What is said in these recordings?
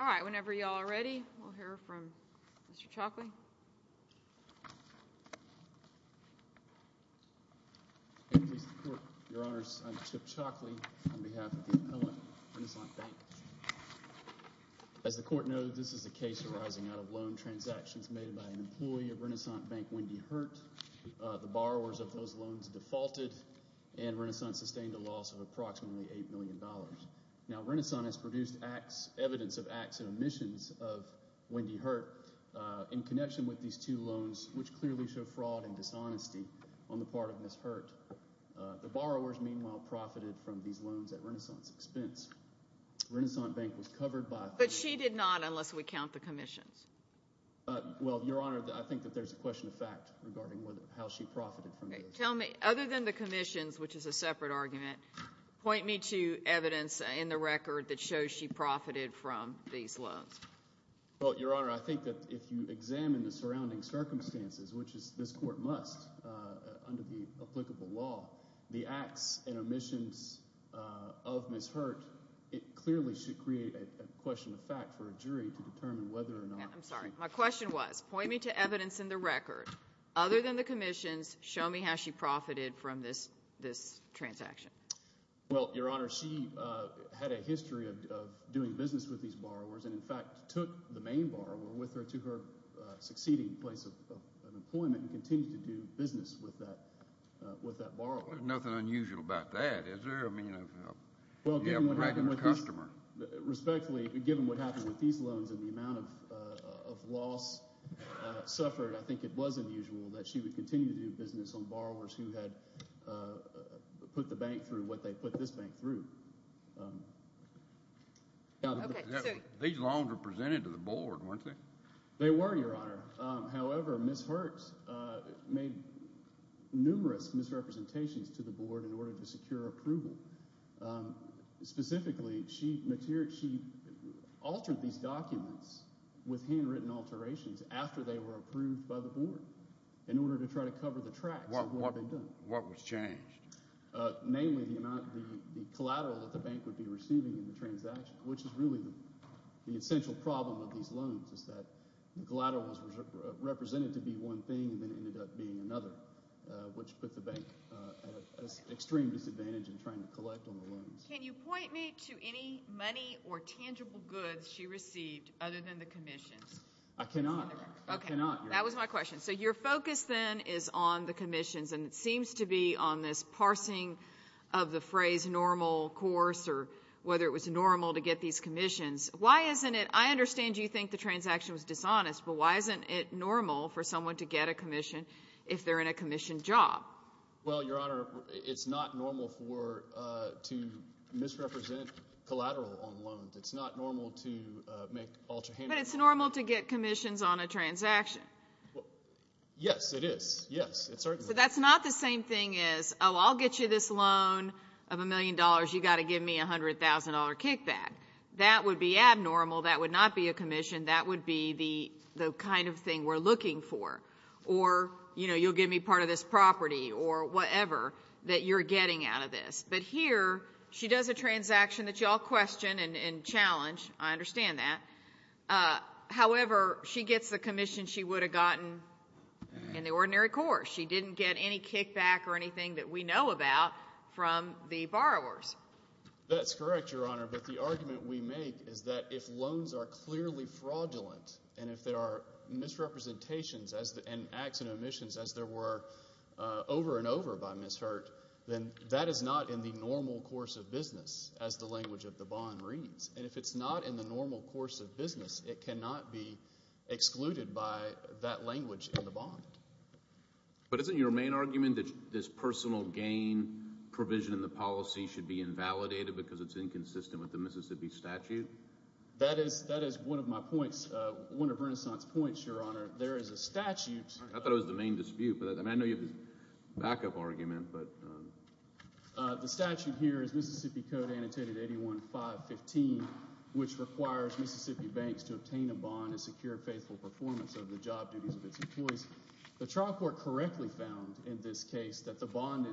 All right, whenever y'all are ready, we'll hear from Mr. Chalkley. Your Honors, I'm Chip Chalkley on behalf of the Appellant, Renasant Bank. As the Court knows, this is a case arising out of loan transactions made by an employee of Renasant Bank, Wendy Hurt. The borrowers of those loans defaulted, and Renasant sustained a loss of approximately $8 million. Now, Renasant has produced evidence of acts and omissions of Wendy Hurt in connection with these two loans, which clearly show fraud and dishonesty on the part of Ms. Hurt. The borrowers, meanwhile, profited from these loans at Renasant's expense. Renasant Bank was covered by – But she did not, unless we count the commissions. Well, Your Honor, I think that there's a question of fact regarding how she profited from these loans. Tell me, other than the commissions, which is a separate argument, point me to evidence in the record that shows she profited from these loans. Well, Your Honor, I think that if you examine the surrounding circumstances, which this Court must under the applicable law, the acts and omissions of Ms. Hurt, it clearly should create a question of fact for a jury to determine whether or not she – I'm sorry. My question was, point me to evidence in the record. Other than the commissions, show me how she profited from this transaction. Well, Your Honor, she had a history of doing business with these borrowers and, in fact, took the main borrower with her to her succeeding place of employment and continued to do business with that borrower. There's nothing unusual about that, is there? Well, given what happened with these loans and the amount of loss suffered, I think it was unusual that she would continue to do business on borrowers who had put the bank through what they put this bank through. These loans were presented to the Board, weren't they? They were, Your Honor. However, Ms. Hurt made numerous misrepresentations to the Board in order to secure approval. Specifically, she altered these documents with handwritten alterations after they were approved by the Board in order to try to cover the tracks of what they'd done. What was changed? Namely, the amount – the collateral that the bank would be receiving in the transaction, which is really the essential problem with these loans, is that the collateral was represented to be one thing and then ended up being another, which put the bank at an extreme disadvantage in trying to collect on the loans. Can you point me to any money or tangible goods she received other than the commissions? I cannot, Your Honor. That was my question. So your focus then is on the commissions, and it seems to be on this parsing of the phrase normal course or whether it was normal to get these commissions. Why isn't it – I understand you think the transaction was dishonest, but why isn't it normal for someone to get a commission if they're in a commissioned job? Well, Your Honor, it's not normal to misrepresent collateral on loans. It's not normal to make alter handouts. But it's normal to get commissions on a transaction. Yes, it is. Yes, it certainly is. But that's not the same thing as, oh, I'll get you this loan of a million dollars. You've got to give me $100,000 kickback. That would be abnormal. That would not be a commission. That would be the kind of thing we're looking for. Or, you know, you'll give me part of this property or whatever that you're getting out of this. But here she does a transaction that you all question and challenge. I understand that. However, she gets the commission she would have gotten in the ordinary course. She didn't get any kickback or anything that we know about from the borrowers. That's correct, Your Honor. But the argument we make is that if loans are clearly fraudulent and if there are misrepresentations and accident omissions, as there were over and over by Ms. Hurte, then that is not in the normal course of business, as the language of the bond reads. And if it's not in the normal course of business, it cannot be excluded by that language in the bond. But isn't your main argument that this personal gain provision in the policy should be invalidated because it's inconsistent with the Mississippi statute? That is one of my points, one of Renaissance's points, Your Honor. There is a statute. I thought it was the main dispute, but I know you have a backup argument. The statute here is Mississippi Code Annotated 81515, which requires Mississippi banks to obtain a bond and secure faithful performance of the job duties of its employees. The trial court correctly found in this case that the bond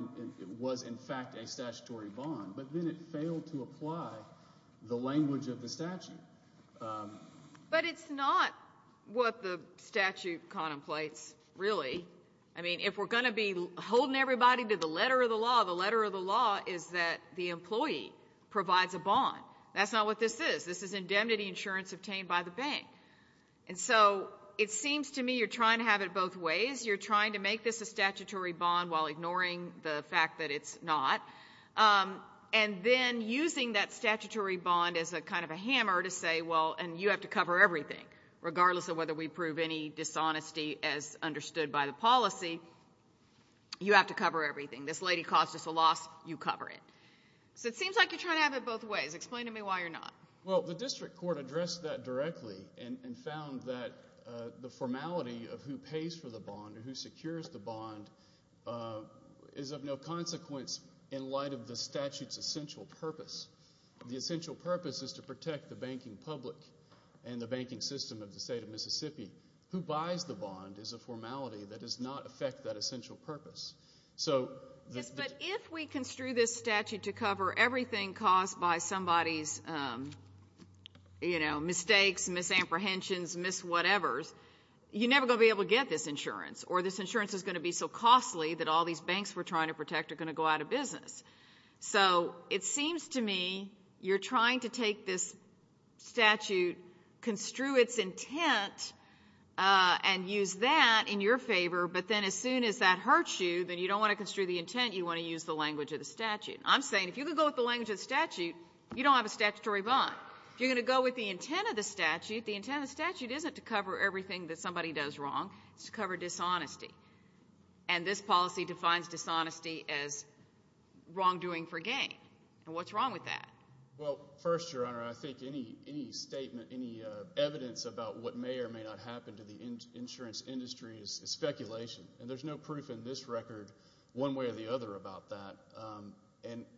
was in fact a statutory bond, but then it failed to apply the language of the statute. But it's not what the statute contemplates, really. I mean, if we're going to be holding everybody to the letter of the law, the letter of the law is that the employee provides a bond. That's not what this is. This is indemnity insurance obtained by the bank. And so it seems to me you're trying to have it both ways. You're trying to make this a statutory bond while ignoring the fact that it's not and then using that statutory bond as a kind of a hammer to say, well, and you have to cover everything, regardless of whether we prove any dishonesty as understood by the policy, you have to cover everything. This lady caused us a loss. You cover it. So it seems like you're trying to have it both ways. Explain to me why you're not. Well, the district court addressed that directly and found that the formality of who pays for the bond or who secures the bond is of no consequence in light of the statute's essential purpose. The essential purpose is to protect the banking public and the banking system of the state of Mississippi. Who buys the bond is a formality that does not affect that essential purpose. But if we construe this statute to cover everything caused by somebody's, you know, mistakes, misapprehensions, mis-whatevers, you're never going to be able to get this insurance or this insurance is going to be so costly that all these banks we're trying to protect are going to go out of business. So it seems to me you're trying to take this statute, construe its intent, and use that in your favor, but then as soon as that hurts you, then you don't want to construe the intent. You want to use the language of the statute. I'm saying if you can go with the language of the statute, you don't have a statutory bond. If you're going to go with the intent of the statute, the intent of the statute isn't to cover everything that somebody does wrong. It's to cover dishonesty. And this policy defines dishonesty as wrongdoing for gain. And what's wrong with that? Well, first, Your Honor, I think any statement, any evidence about what may or may not happen to the insurance industry is speculation. And there's no proof in this record one way or the other about that.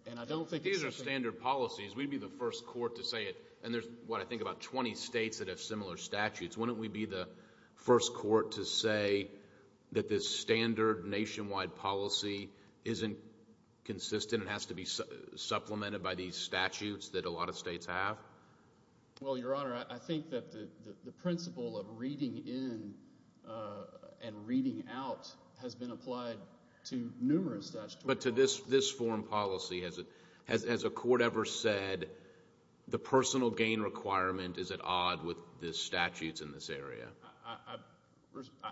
And I don't think these are standard policies. We'd be the first court to say it. And there's, what, I think about 20 states that have similar statutes. Wouldn't we be the first court to say that this standard nationwide policy isn't consistent and has to be supplemented by these statutes that a lot of states have? Well, Your Honor, I think that the principle of reading in and reading out has been applied to numerous statutes. But to this form policy, has a court ever said the personal gain requirement is at odd with the statutes in this area?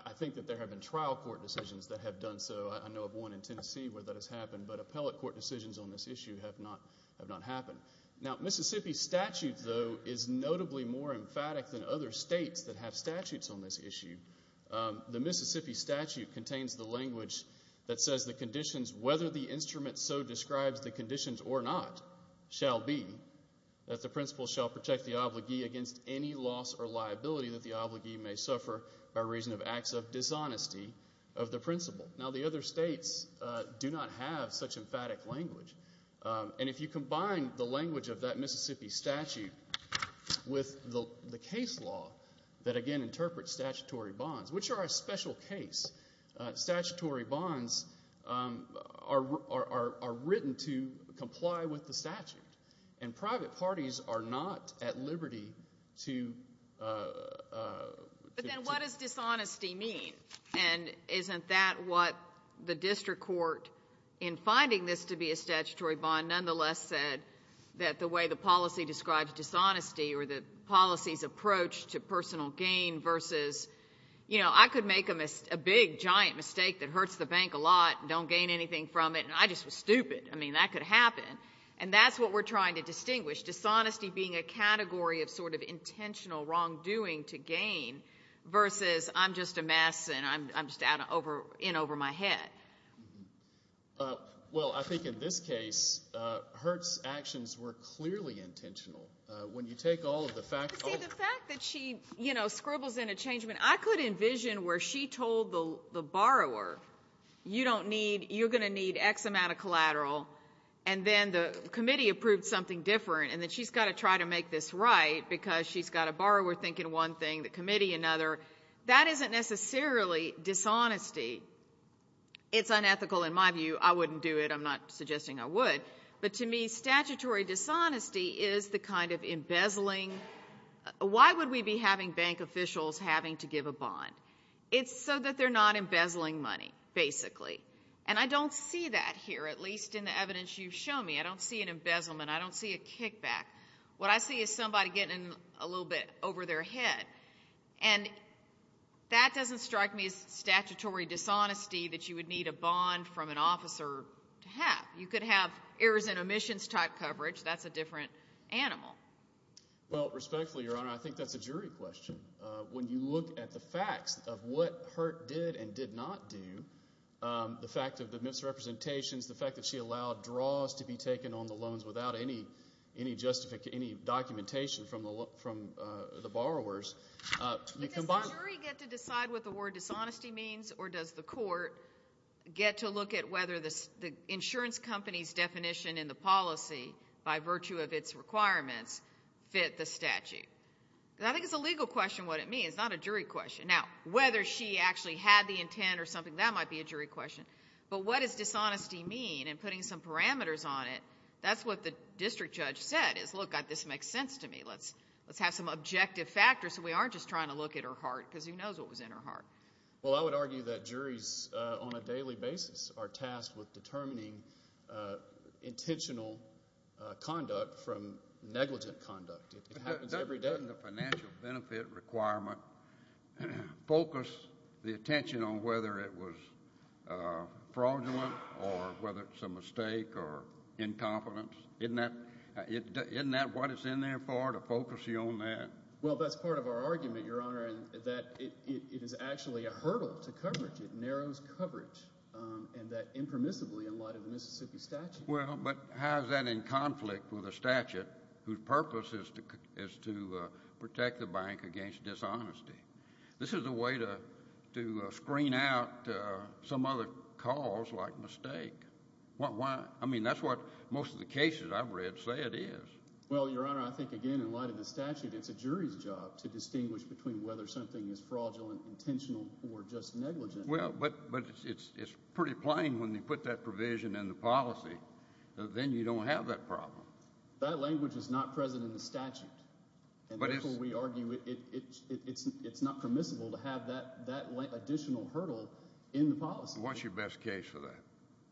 I think that there have been trial court decisions that have done so. I know of one in Tennessee where that has happened, but appellate court decisions on this issue have not happened. Now, Mississippi's statute, though, is notably more emphatic than other states that have statutes on this issue. The Mississippi statute contains the language that says the conditions, whether the instrument so describes the conditions or not, shall be, that the principle shall protect the obligee against any loss or liability that the obligee may suffer by reason of acts of dishonesty of the principle. Now, the other states do not have such emphatic language. And if you combine the language of that Mississippi statute with the case law that, again, interprets statutory bonds, which are a special case, statutory bonds are written to comply with the statute and private parties are not at liberty to But then what does dishonesty mean? And isn't that what the district court, in finding this to be a statutory bond, nonetheless said that the way the policy describes dishonesty or the policy's approach to personal gain versus, you know, I could make a big, giant mistake that hurts the bank a lot and don't gain anything from it, and I just was stupid. I mean, that could happen. And that's what we're trying to distinguish, dishonesty being a category of sort of intentional wrongdoing to gain versus I'm just a mess and I'm just in over my head. Well, I think in this case, Hurte's actions were clearly intentional. When you take all of the facts of the law. You see, the fact that she, you know, scribbles in a changement, I could envision where she told the borrower, you don't need, you're going to need X amount of collateral, and then the committee approved something different, and then she's got to try to make this right because she's got a borrower thinking one thing, the committee another. That isn't necessarily dishonesty. It's unethical in my view. I wouldn't do it. I'm not suggesting I would. But to me, statutory dishonesty is the kind of embezzling. Why would we be having bank officials having to give a bond? It's so that they're not embezzling money, basically. And I don't see that here, at least in the evidence you've shown me. I don't see an embezzlement. I don't see a kickback. What I see is somebody getting a little bit over their head. And that doesn't strike me as statutory dishonesty that you would need a bond from an officer to have. You could have errors and omissions type coverage. That's a different animal. Well, respectfully, Your Honor, I think that's a jury question. When you look at the facts of what Hurt did and did not do, the fact of the misrepresentations, the fact that she allowed draws to be taken on the loans without any documentation from the borrowers. But does the jury get to decide what the word dishonesty means, or does the court get to look at whether the insurance company's definition in the policy, by virtue of its requirements, fit the statute? Because I think it's a legal question what it means, not a jury question. Now, whether she actually had the intent or something, that might be a jury question. But what does dishonesty mean? And putting some parameters on it, that's what the district judge said is, look, this makes sense to me, let's have some objective factors so we aren't just trying to look at her heart because who knows what was in her heart. Well, I would argue that juries, on a daily basis, are tasked with determining intentional conduct from negligent conduct. It happens every day. Doesn't the financial benefit requirement focus the attention on whether it was fraudulent or whether it's a mistake or incompetence? Isn't that what it's in there for, to focus you on that? Well, that's part of our argument, Your Honor, that it is actually a hurdle to coverage. It narrows coverage, and that impermissibly in light of the Mississippi statute. Well, but how is that in conflict with a statute whose purpose is to protect the bank against dishonesty? This is a way to screen out some other cause like mistake. I mean, that's what most of the cases I've read say it is. Well, Your Honor, I think, again, in light of the statute, it's a jury's job to distinguish between whether something is fraudulent, intentional, or just negligent. Well, but it's pretty plain when you put that provision in the policy. Then you don't have that problem. That language is not present in the statute. Therefore, we argue it's not permissible to have that additional hurdle in the policy. What's your best case for that?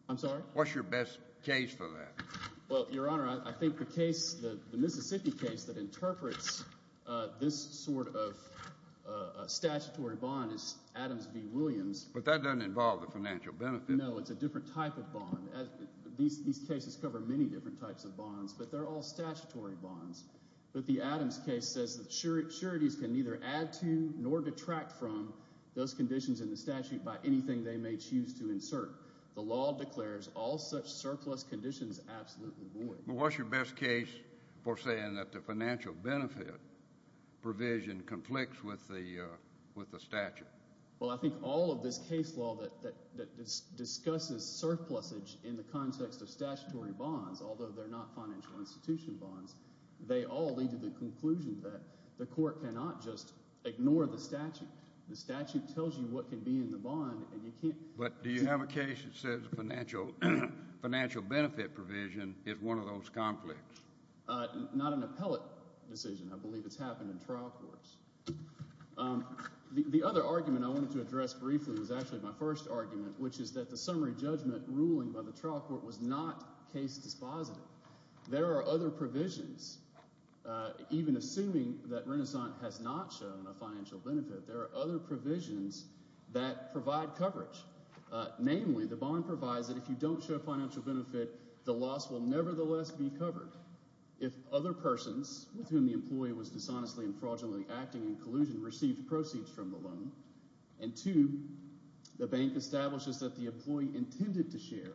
I'm sorry? What's your best case for that? Well, Your Honor, I think the case, the Mississippi case that interprets this sort of statutory bond is Adams v. Williams. But that doesn't involve the financial benefit. No, it's a different type of bond. These cases cover many different types of bonds, but they're all statutory bonds. But the Adams case says that sureties can neither add to nor detract from those conditions in the statute by anything they may choose to insert. The law declares all such surplus conditions absolutely void. Well, what's your best case for saying that the financial benefit provision conflicts with the statute? Well, I think all of this case law that discusses surplusage in the context of statutory bonds, although they're not financial institution bonds, they all lead to the conclusion that the court cannot just ignore the statute. The statute tells you what can be in the bond, and you can't— But do you have a case that says the financial benefit provision is one of those conflicts? Not an appellate decision. I believe it's happened in trial courts. The other argument I wanted to address briefly was actually my first argument, which is that the summary judgment ruling by the trial court was not case dispositive. There are other provisions. Even assuming that Renaissance has not shown a financial benefit, there are other provisions that provide coverage. Namely, the bond provides that if you don't show financial benefit, the loss will nevertheless be covered. If other persons with whom the employee was dishonestly and fraudulently acting in collusion received proceeds from the loan, and two, the bank establishes that the employee intended to share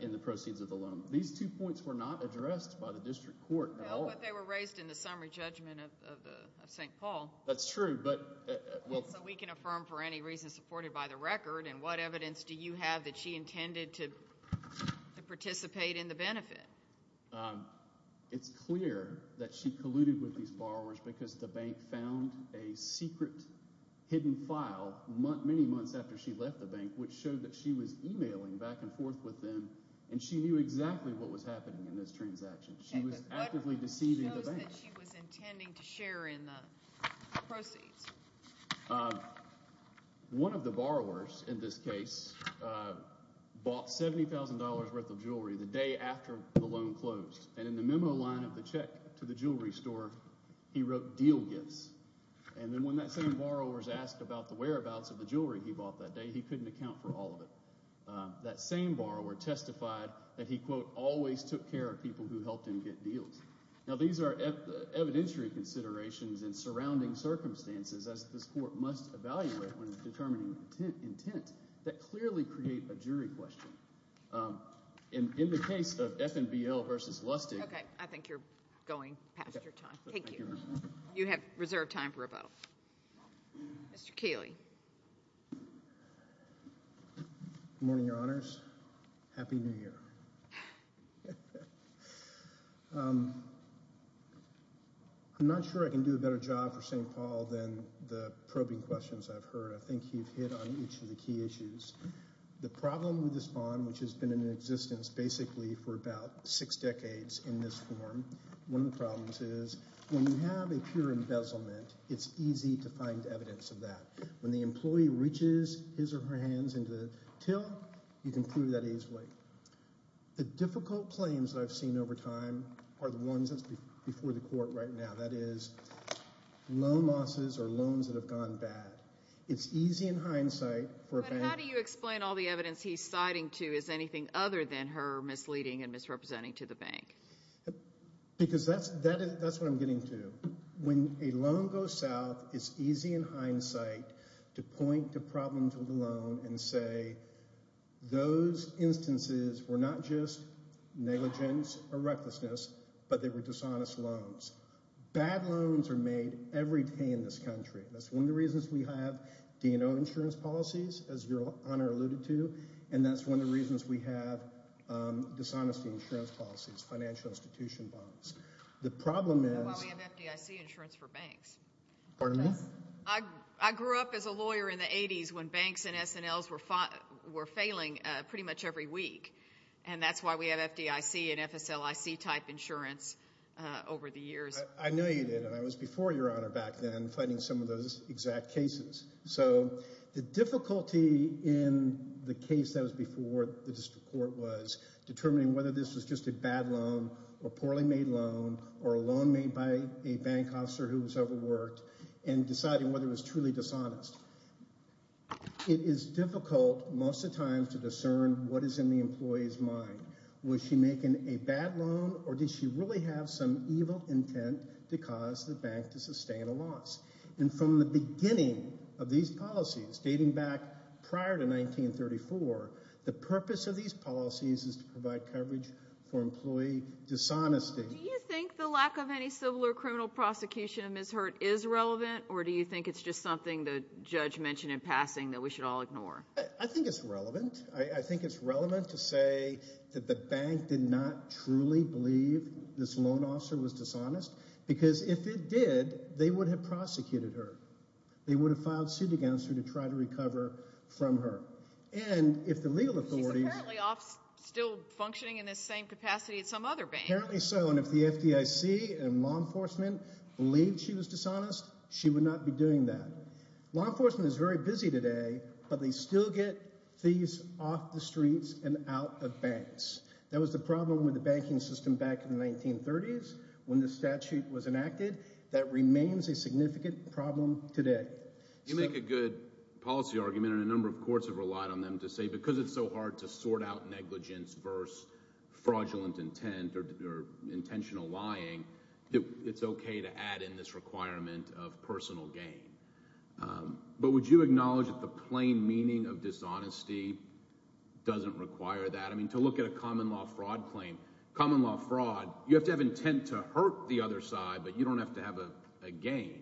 in the proceeds of the loan. These two points were not addressed by the district court at all. No, but they were raised in the summary judgment of St. Paul. That's true, but— So we can affirm for any reason supported by the record, and what evidence do you have that she intended to participate in the benefit? It's clear that she colluded with these borrowers because the bank found a secret hidden file many months after she left the bank, which showed that she was emailing back and forth with them, and she knew exactly what was happening in this transaction. She was actively deceiving the bank. What shows that she was intending to share in the proceeds? One of the borrowers in this case bought $70,000 worth of jewelry the day after the loan closed, and in the memo line of the check to the jewelry store, he wrote deal gifts. And then when that same borrower was asked about the whereabouts of the jewelry he bought that day, he couldn't account for all of it. That same borrower testified that he, quote, always took care of people who helped him get deals. Now these are evidentiary considerations in surrounding circumstances, as this court must evaluate when determining intent, that clearly create a jury question. In the case of F&BL v. Lustig— Okay, I think you're going past your time. Thank you. You have reserved time for rebuttal. Mr. Keeley. Good morning, Your Honors. Happy New Year. I'm not sure I can do a better job for St. Paul than the probing questions I've heard. I think you've hit on each of the key issues. The problem with this bond, which has been in existence basically for about six decades in this form, one of the problems is when you have a pure embezzlement, it's easy to find evidence of that. When the employee reaches his or her hands into the till, you can prove that he's right. The difficult claims that I've seen over time are the ones that's before the court right now. That is loan losses or loans that have gone bad. It's easy in hindsight for a bank— Because that's what I'm getting to. When a loan goes south, it's easy in hindsight to point to problems with a loan and say those instances were not just negligence or recklessness, but they were dishonest loans. Bad loans are made every day in this country. That's one of the reasons we have D&O insurance policies, as Your Honor alluded to, and that's one of the reasons we have dishonesty insurance policies, financial institution bonds. The problem is— That's why we have FDIC insurance for banks. Pardon me? I grew up as a lawyer in the 80s when banks and S&Ls were failing pretty much every week, and that's why we have FDIC and FSLIC-type insurance over the years. I knew you did, and I was before Your Honor back then fighting some of those exact cases. So the difficulty in the case that was before the district court was determining whether this was just a bad loan or poorly made loan or a loan made by a bank officer who was overworked and deciding whether it was truly dishonest. It is difficult most of the time to discern what is in the employee's mind. Was she making a bad loan, or did she really have some evil intent to cause the bank to sustain a loss? And from the beginning of these policies, dating back prior to 1934, the purpose of these policies is to provide coverage for employee dishonesty. Do you think the lack of any civil or criminal prosecution of mishirt is relevant, or do you think it's just something the judge mentioned in passing that we should all ignore? I think it's relevant. I think it's relevant to say that the bank did not truly believe this loan officer was dishonest because if it did, they would have prosecuted her. They would have filed suit against her to try to recover from her. She's apparently still functioning in this same capacity at some other bank. Apparently so, and if the FDIC and law enforcement believed she was dishonest, she would not be doing that. Law enforcement is very busy today, but they still get fees off the streets and out of banks. That was the problem with the banking system back in the 1930s when the statute was enacted. That remains a significant problem today. You make a good policy argument, and a number of courts have relied on them to say because it's so hard to sort out negligence versus fraudulent intent or intentional lying, it's okay to add in this requirement of personal gain. But would you acknowledge that the plain meaning of dishonesty doesn't require that? I mean to look at a common law fraud claim, common law fraud, you have to have intent to hurt the other side, but you don't have to have a gain.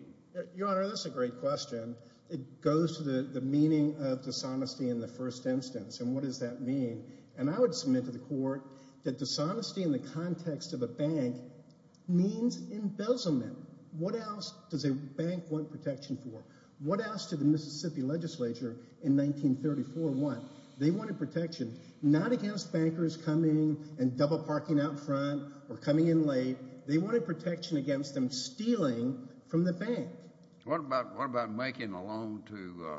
Your Honor, that's a great question. It goes to the meaning of dishonesty in the first instance, and what does that mean? And I would submit to the court that dishonesty in the context of a bank means embezzlement. What else does a bank want protection for? What else did the Mississippi legislature in 1934 want? They wanted protection not against bankers coming and double parking out front or coming in late. They wanted protection against them stealing from the bank. What about making a loan to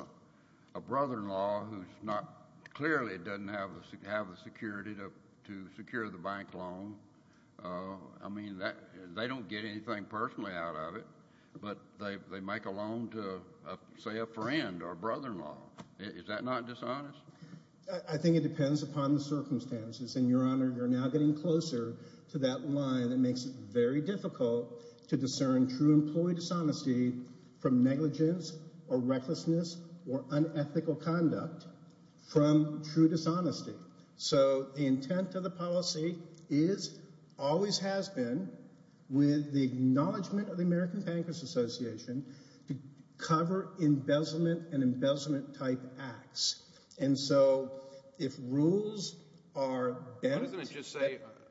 a brother-in-law who clearly doesn't have the security to secure the bank loan? I mean they don't get anything personally out of it, but they make a loan to, say, a friend or a brother-in-law. Is that not dishonest? I think it depends upon the circumstances, and, Your Honor, you're now getting closer to that line that makes it very difficult to discern true employee dishonesty from negligence or recklessness or unethical conduct from true dishonesty. So the intent of the policy is, always has been, with the acknowledgement of the American Bankers Association, to cover embezzlement and embezzlement-type acts. And so if rules are bent,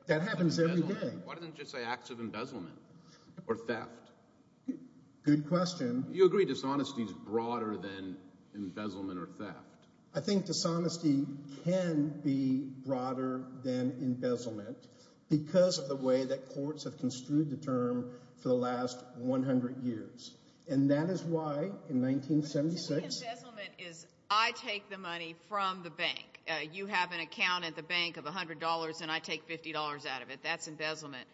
that happens every day. Why doesn't it just say acts of embezzlement or theft? Good question. You agree dishonesty is broader than embezzlement or theft? I think dishonesty can be broader than embezzlement because of the way that courts have construed the term for the last 100 years. And that is why, in 1976- What you mean embezzlement is I take the money from the bank. You have an account at the bank of $100, and I take $50 out of it. That's embezzlement.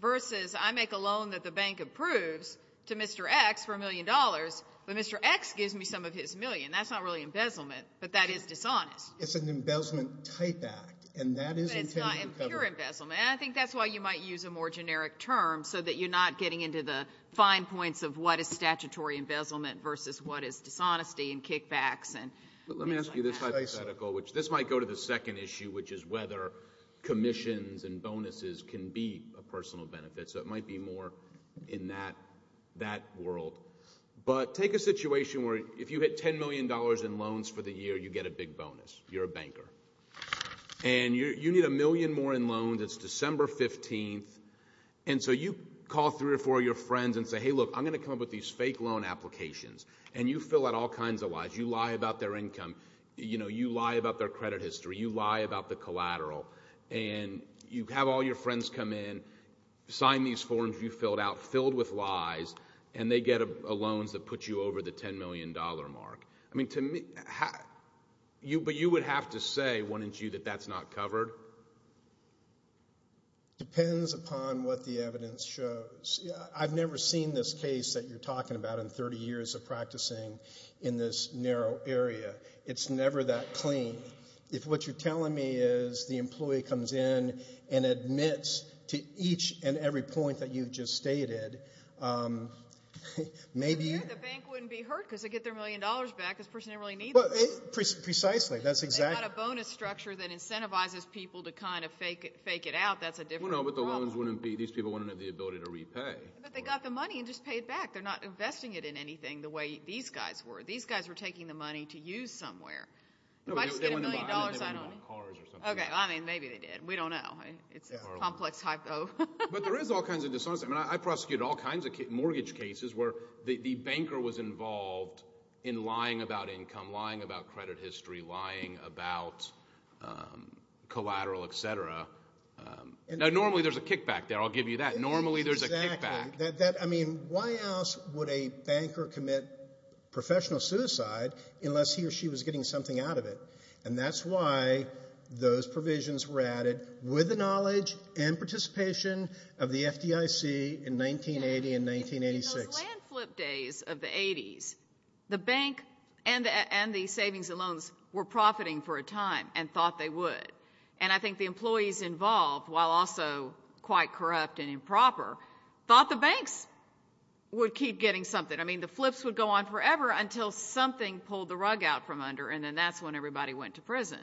Versus I make a loan that the bank approves to Mr. X for $1 million, but Mr. X gives me some of his million. That's not really embezzlement, but that is dishonest. It's an embezzlement-type act, and that is intended to cover- But it's not pure embezzlement. And I think that's why you might use a more generic term so that you're not getting into the fine points of what is statutory embezzlement versus what is dishonesty and kickbacks and things like that. Let me ask you this hypothetical, which this might go to the second issue, which is whether commissions and bonuses can be a personal benefit. So it might be more in that world. But take a situation where if you hit $10 million in loans for the year, you get a big bonus. You're a banker. And you need a million more in loans. It's December 15th. And so you call three or four of your friends and say, Hey, look, I'm going to come up with these fake loan applications. And you fill out all kinds of lies. You lie about their income. You lie about their credit history. You lie about the collateral. And you have all your friends come in, sign these forms you filled out filled with lies, and they get loans that put you over the $10 million mark. But you would have to say, wouldn't you, that that's not covered? It depends upon what the evidence shows. I've never seen this case that you're talking about in 30 years of practicing in this narrow area. It's never that clean. If what you're telling me is the employee comes in and admits to each and every point that you've just stated, maybe you're going to be hurt. The bank wouldn't be hurt because they get their million dollars back. This person didn't really need them. Precisely. They've got a bonus structure that incentivizes people to kind of fake it out. That's a different problem. Well, no, but the loans wouldn't be. These people wouldn't have the ability to repay. But they got the money and just paid back. They're not investing it in anything the way these guys were. These guys were taking the money to use somewhere. If I didn't get a million dollars, I don't know. Okay, well, I mean, maybe they did. We don't know. It's a complex hypo. But there is all kinds of dishonesty. I mean, I prosecuted all kinds of mortgage cases where the banker was involved in lying about income, lying about credit history, lying about collateral, et cetera. Now, normally there's a kickback there. I'll give you that. Normally there's a kickback. I mean, why else would a banker commit professional suicide unless he or she was getting something out of it? And that's why those provisions were added with the knowledge and participation of the FDIC in 1980 and 1986. In those land flip days of the 80s, the bank and the savings and loans were profiting for a time and thought they would. And I think the employees involved, while also quite corrupt and improper, thought the banks would keep getting something. I mean, the flips would go on forever until something pulled the rug out from under, and then that's when everybody went to prison.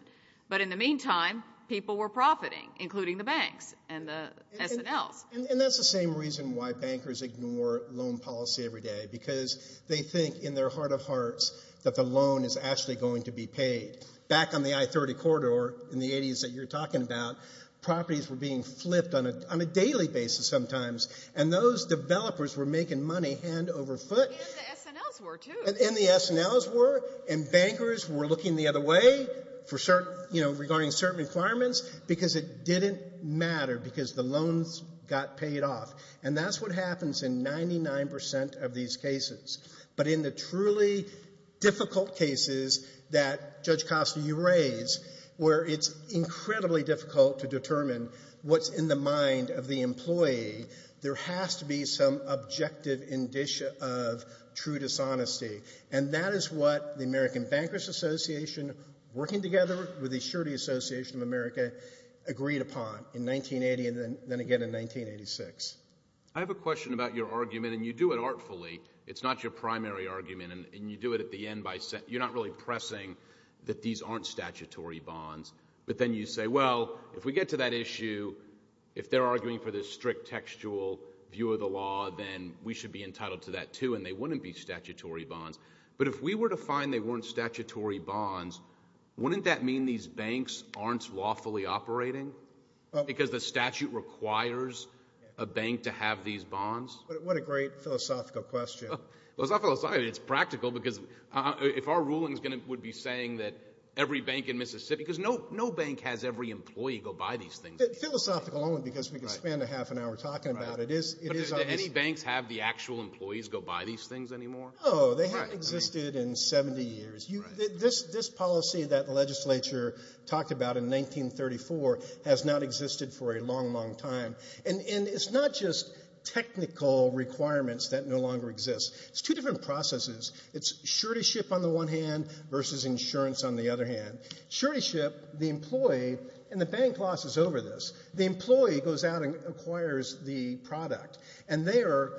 But in the meantime, people were profiting, including the banks and the SNLs. And that's the same reason why bankers ignore loan policy every day, because they think in their heart of hearts that the loan is actually going to be paid. Back on the I-30 corridor in the 80s that you're talking about, properties were being flipped on a daily basis sometimes, and those developers were making money hand over foot. And the SNLs were, too. And the SNLs were. And bankers were looking the other way for certain, you know, regarding certain requirements, because it didn't matter because the loans got paid off. And that's what happens in 99 percent of these cases. But in the truly difficult cases that, Judge Costa, you raise, where it's incredibly difficult to determine what's in the mind of the employee, there has to be some objective indicia of true dishonesty. And that is what the American Bankers Association, working together with the Assurity Association of America, agreed upon in 1980 and then again in 1986. I have a question about your argument, and you do it artfully. It's not your primary argument, and you do it at the end by saying you're not really pressing that these aren't statutory bonds. But then you say, well, if we get to that issue, if they're arguing for this strict textual view of the law, then we should be entitled to that, too, and they wouldn't be statutory bonds. But if we were to find they weren't statutory bonds, wouldn't that mean these banks aren't lawfully operating? Because the statute requires a bank to have these bonds? What a great philosophical question. Well, it's not philosophical. It's practical because if our ruling would be saying that every bank in Mississippi because no bank has every employee go buy these things. Philosophical only because we could spend a half an hour talking about it. But do any banks have the actual employees go buy these things anymore? No, they haven't existed in 70 years. This policy that the legislature talked about in 1934 has not existed for a long, long time. And it's not just technical requirements that no longer exist. It's two different processes. It's suretyship on the one hand versus insurance on the other hand. Suretyship, the employee, and the bank losses over this. The employee goes out and acquires the product, and they are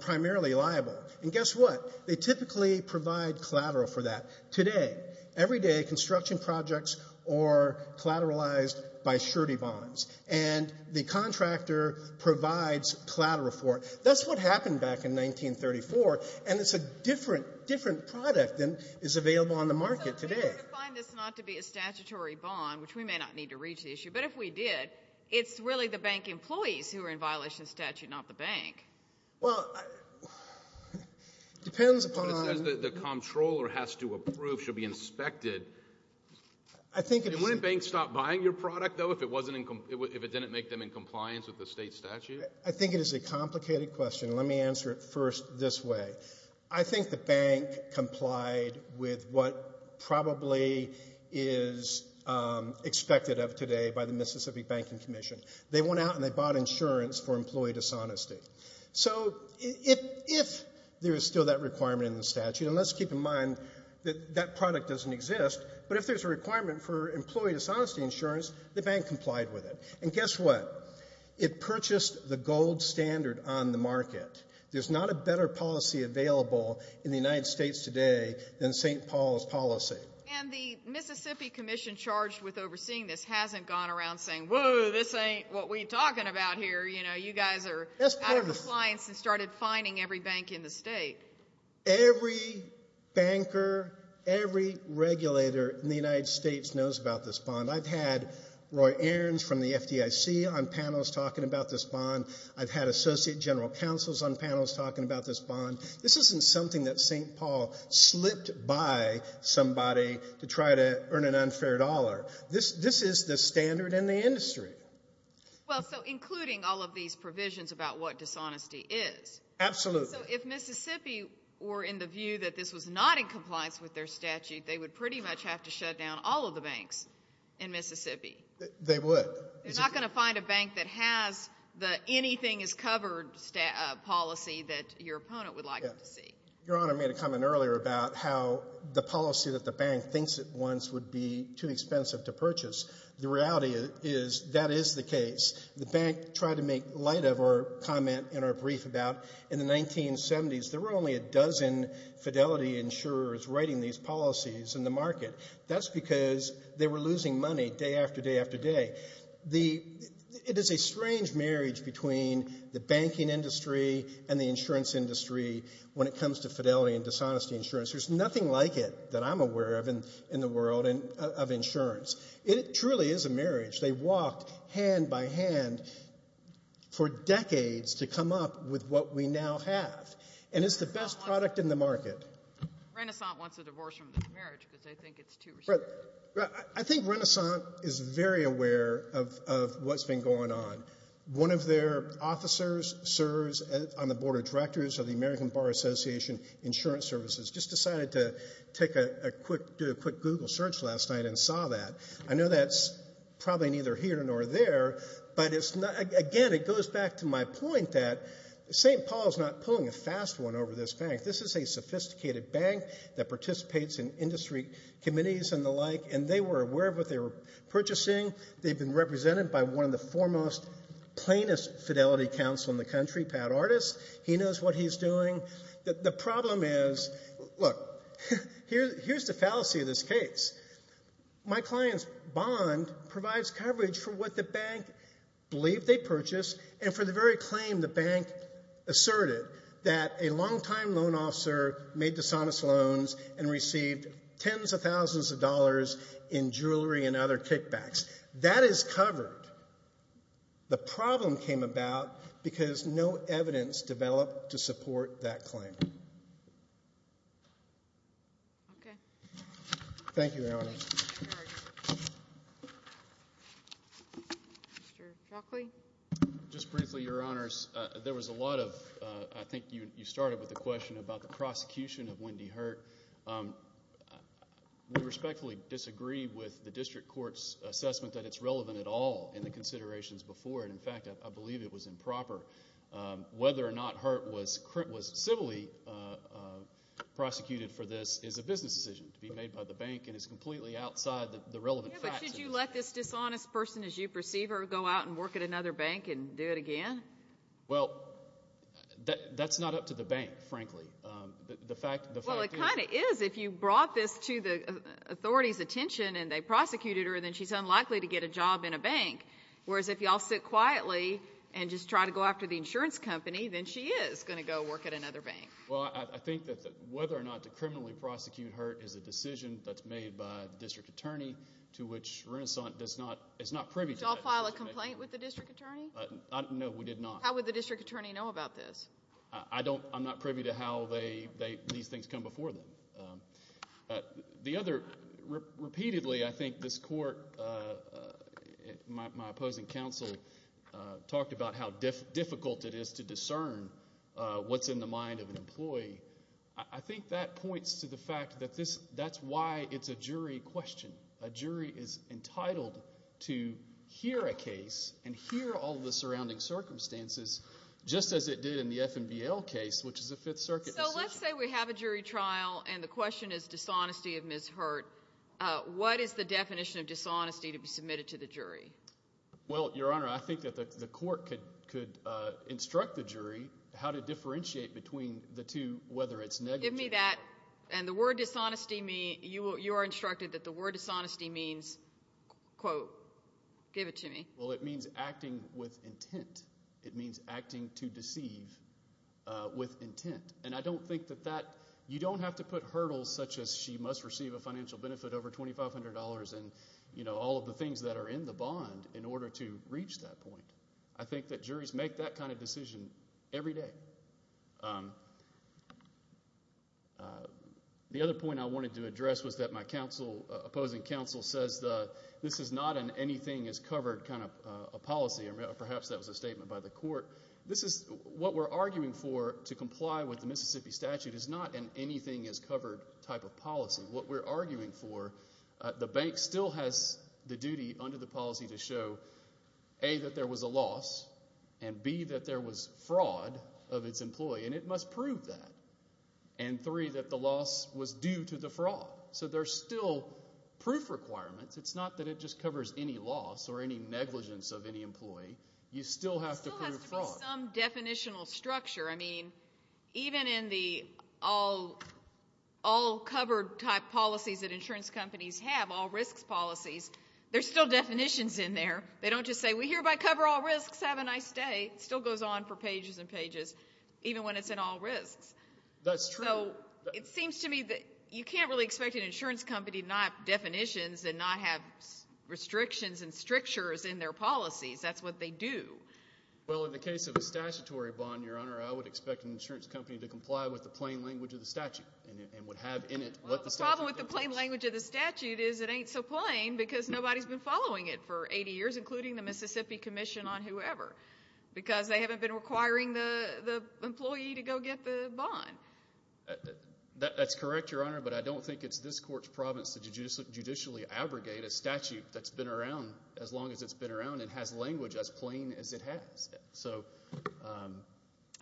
primarily liable. And guess what? They typically provide collateral for that. Today, everyday construction projects are collateralized by surety bonds. And the contractor provides collateral for it. That's what happened back in 1934. And it's a different product than is available on the market today. So if we were to define this not to be a statutory bond, which we may not need to reach the issue, but if we did, it's really the bank employees who are in violation of statute, not the bank. Well, it depends upon. It says the comptroller has to approve, should be inspected. Wouldn't banks stop buying your product, though, if it didn't make them in compliance with the state statute? I think it is a complicated question. Let me answer it first this way. I think the bank complied with what probably is expected of today by the Mississippi Banking Commission. They went out and they bought insurance for employee dishonesty. So if there is still that requirement in the statute, and let's keep in mind that that product doesn't exist, but if there's a requirement for employee dishonesty insurance, the bank complied with it. And guess what? It purchased the gold standard on the market. There's not a better policy available in the United States today than St. Paul's policy. And the Mississippi Commission charged with overseeing this hasn't gone around saying, Whoa, this ain't what we're talking about here. You know, you guys are out of compliance and started fining every bank in the state. Every banker, every regulator in the United States knows about this bond. I've had Roy Aarons from the FDIC on panels talking about this bond. I've had associate general counsels on panels talking about this bond. This isn't something that St. Paul slipped by somebody to try to earn an unfair dollar. This is the standard in the industry. Well, so including all of these provisions about what dishonesty is. Absolutely. So if Mississippi were in the view that this was not in compliance with their statute, they would pretty much have to shut down all of the banks in Mississippi. They would. They're not going to find a bank that has the anything is covered policy that your opponent would like to see. Your Honor, I made a comment earlier about how the policy that the bank thinks it wants would be too expensive to purchase. The reality is that is the case. The bank tried to make light of our comment in our brief about in the 1970s, there were only a dozen fidelity insurers writing these policies in the market. That's because they were losing money day after day after day. It is a strange marriage between the banking industry and the insurance industry when it comes to fidelity and dishonesty insurance. There's nothing like it that I'm aware of in the world of insurance. It truly is a marriage. They walked hand by hand for decades to come up with what we now have, and it's the best product in the market. Renasant wants a divorce from the marriage because they think it's too expensive. I think Renasant is very aware of what's been going on. One of their officers serves on the Board of Directors of the American Bar Association Insurance Services, just decided to do a quick Google search last night and saw that. I know that's probably neither here nor there, but again, it goes back to my point that St. Paul's not pulling a fast one over this bank. This is a sophisticated bank that participates in industry committees and the like, and they were aware of what they were purchasing. They've been represented by one of the foremost, plainest fidelity counsel in the country, Pat Artis. He knows what he's doing. The problem is, look, here's the fallacy of this case. My client's bond provides coverage for what the bank believed they purchased and for the very claim the bank asserted that a long-time loan officer made dishonest loans and received tens of thousands of dollars in jewelry and other kickbacks. That is covered. The problem came about because no evidence developed to support that claim. Okay. Thank you, Your Honor. Thank you. Mr. Shockley? Just briefly, Your Honors, there was a lot of, I think you started with the question about the prosecution of Wendy Hurt. We respectfully disagree with the district court's assessment that it's relevant at all in the considerations before, and, in fact, I believe it was improper. Whether or not Hurt was civilly prosecuted for this is a business decision to be made by the bank and is completely outside the relevant facts. Yeah, but should you let this dishonest person, as you perceive her, go out and work at another bank and do it again? Well, that's not up to the bank, frankly. Well, it kind of is. If you brought this to the authority's attention and they prosecuted her, then she's unlikely to get a job in a bank, whereas if you all sit quietly and just try to go after the insurance company, then she is going to go work at another bank. Well, I think that whether or not to criminally prosecute Hurt is a decision that's made by the district attorney, to which Renasant is not privy to that decision. Did you all file a complaint with the district attorney? No, we did not. How would the district attorney know about this? I'm not privy to how these things come before them. Repeatedly, I think this court, my opposing counsel, talked about how difficult it is to discern what's in the mind of an employee. I think that points to the fact that that's why it's a jury question. A jury is entitled to hear a case and hear all the surrounding circumstances, just as it did in the FNBL case, which is a Fifth Circuit decision. So let's say we have a jury trial, and the question is dishonesty of Ms. Hurt. What is the definition of dishonesty to be submitted to the jury? Well, Your Honor, I think that the court could instruct the jury how to differentiate between the two, whether it's negative. Give me that. And the word dishonesty, you are instructed that the word dishonesty means, quote, give it to me. Well, it means acting with intent. It means acting to deceive with intent. And I don't think that that you don't have to put hurdles such as she must receive a financial benefit over $2,500 and all of the things that are in the bond in order to reach that point. I think that juries make that kind of decision every day. The other point I wanted to address was that my opposing counsel says this is not an anything is covered kind of policy. Perhaps that was a statement by the court. This is what we're arguing for to comply with the Mississippi statute is not an anything is covered type of policy. What we're arguing for, the bank still has the duty under the policy to show, A, that there was a loss, and, B, that there was fraud of its employee, and it must prove that, and, 3, that the loss was due to the fraud. So there's still proof requirements. It's not that it just covers any loss or any negligence of any employee. You still have to prove fraud. There still has to be some definitional structure. I mean, even in the all covered type policies that insurance companies have, all risks policies, there's still definitions in there. They don't just say, We hereby cover all risks. Have a nice day. It still goes on for pages and pages even when it's in all risks. That's true. So it seems to me that you can't really expect an insurance company to not have definitions and not have restrictions and strictures in their policies. That's what they do. Well, in the case of a statutory bond, Your Honor, I would expect an insurance company to comply with the plain language of the statute and would have in it what the statute does. Well, the problem with the plain language of the statute is it ain't so plain because nobody's been following it for 80 years, including the Mississippi Commission on whoever, because they haven't been requiring the employee to go get the bond. That's correct, Your Honor, but I don't think it's this court's province to judicially abrogate a statute that's been around as long as it's been around and has language as plain as it has.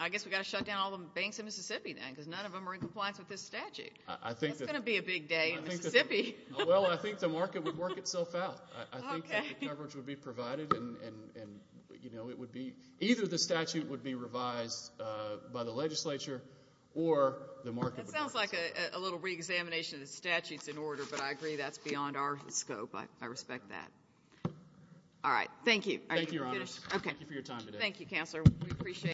I guess we've got to shut down all the banks in Mississippi then because none of them are in compliance with this statute. That's going to be a big day in Mississippi. Well, I think the market would work itself out. I think that the coverage would be provided, and either the statute would be revised by the legislature or the market would work itself out. That sounds like a little reexamination of the statutes in order, but I agree that's beyond our scope. I respect that. All right. Thank you. Thank you, Your Honors. Thank you for your time today. Thank you, Counselor.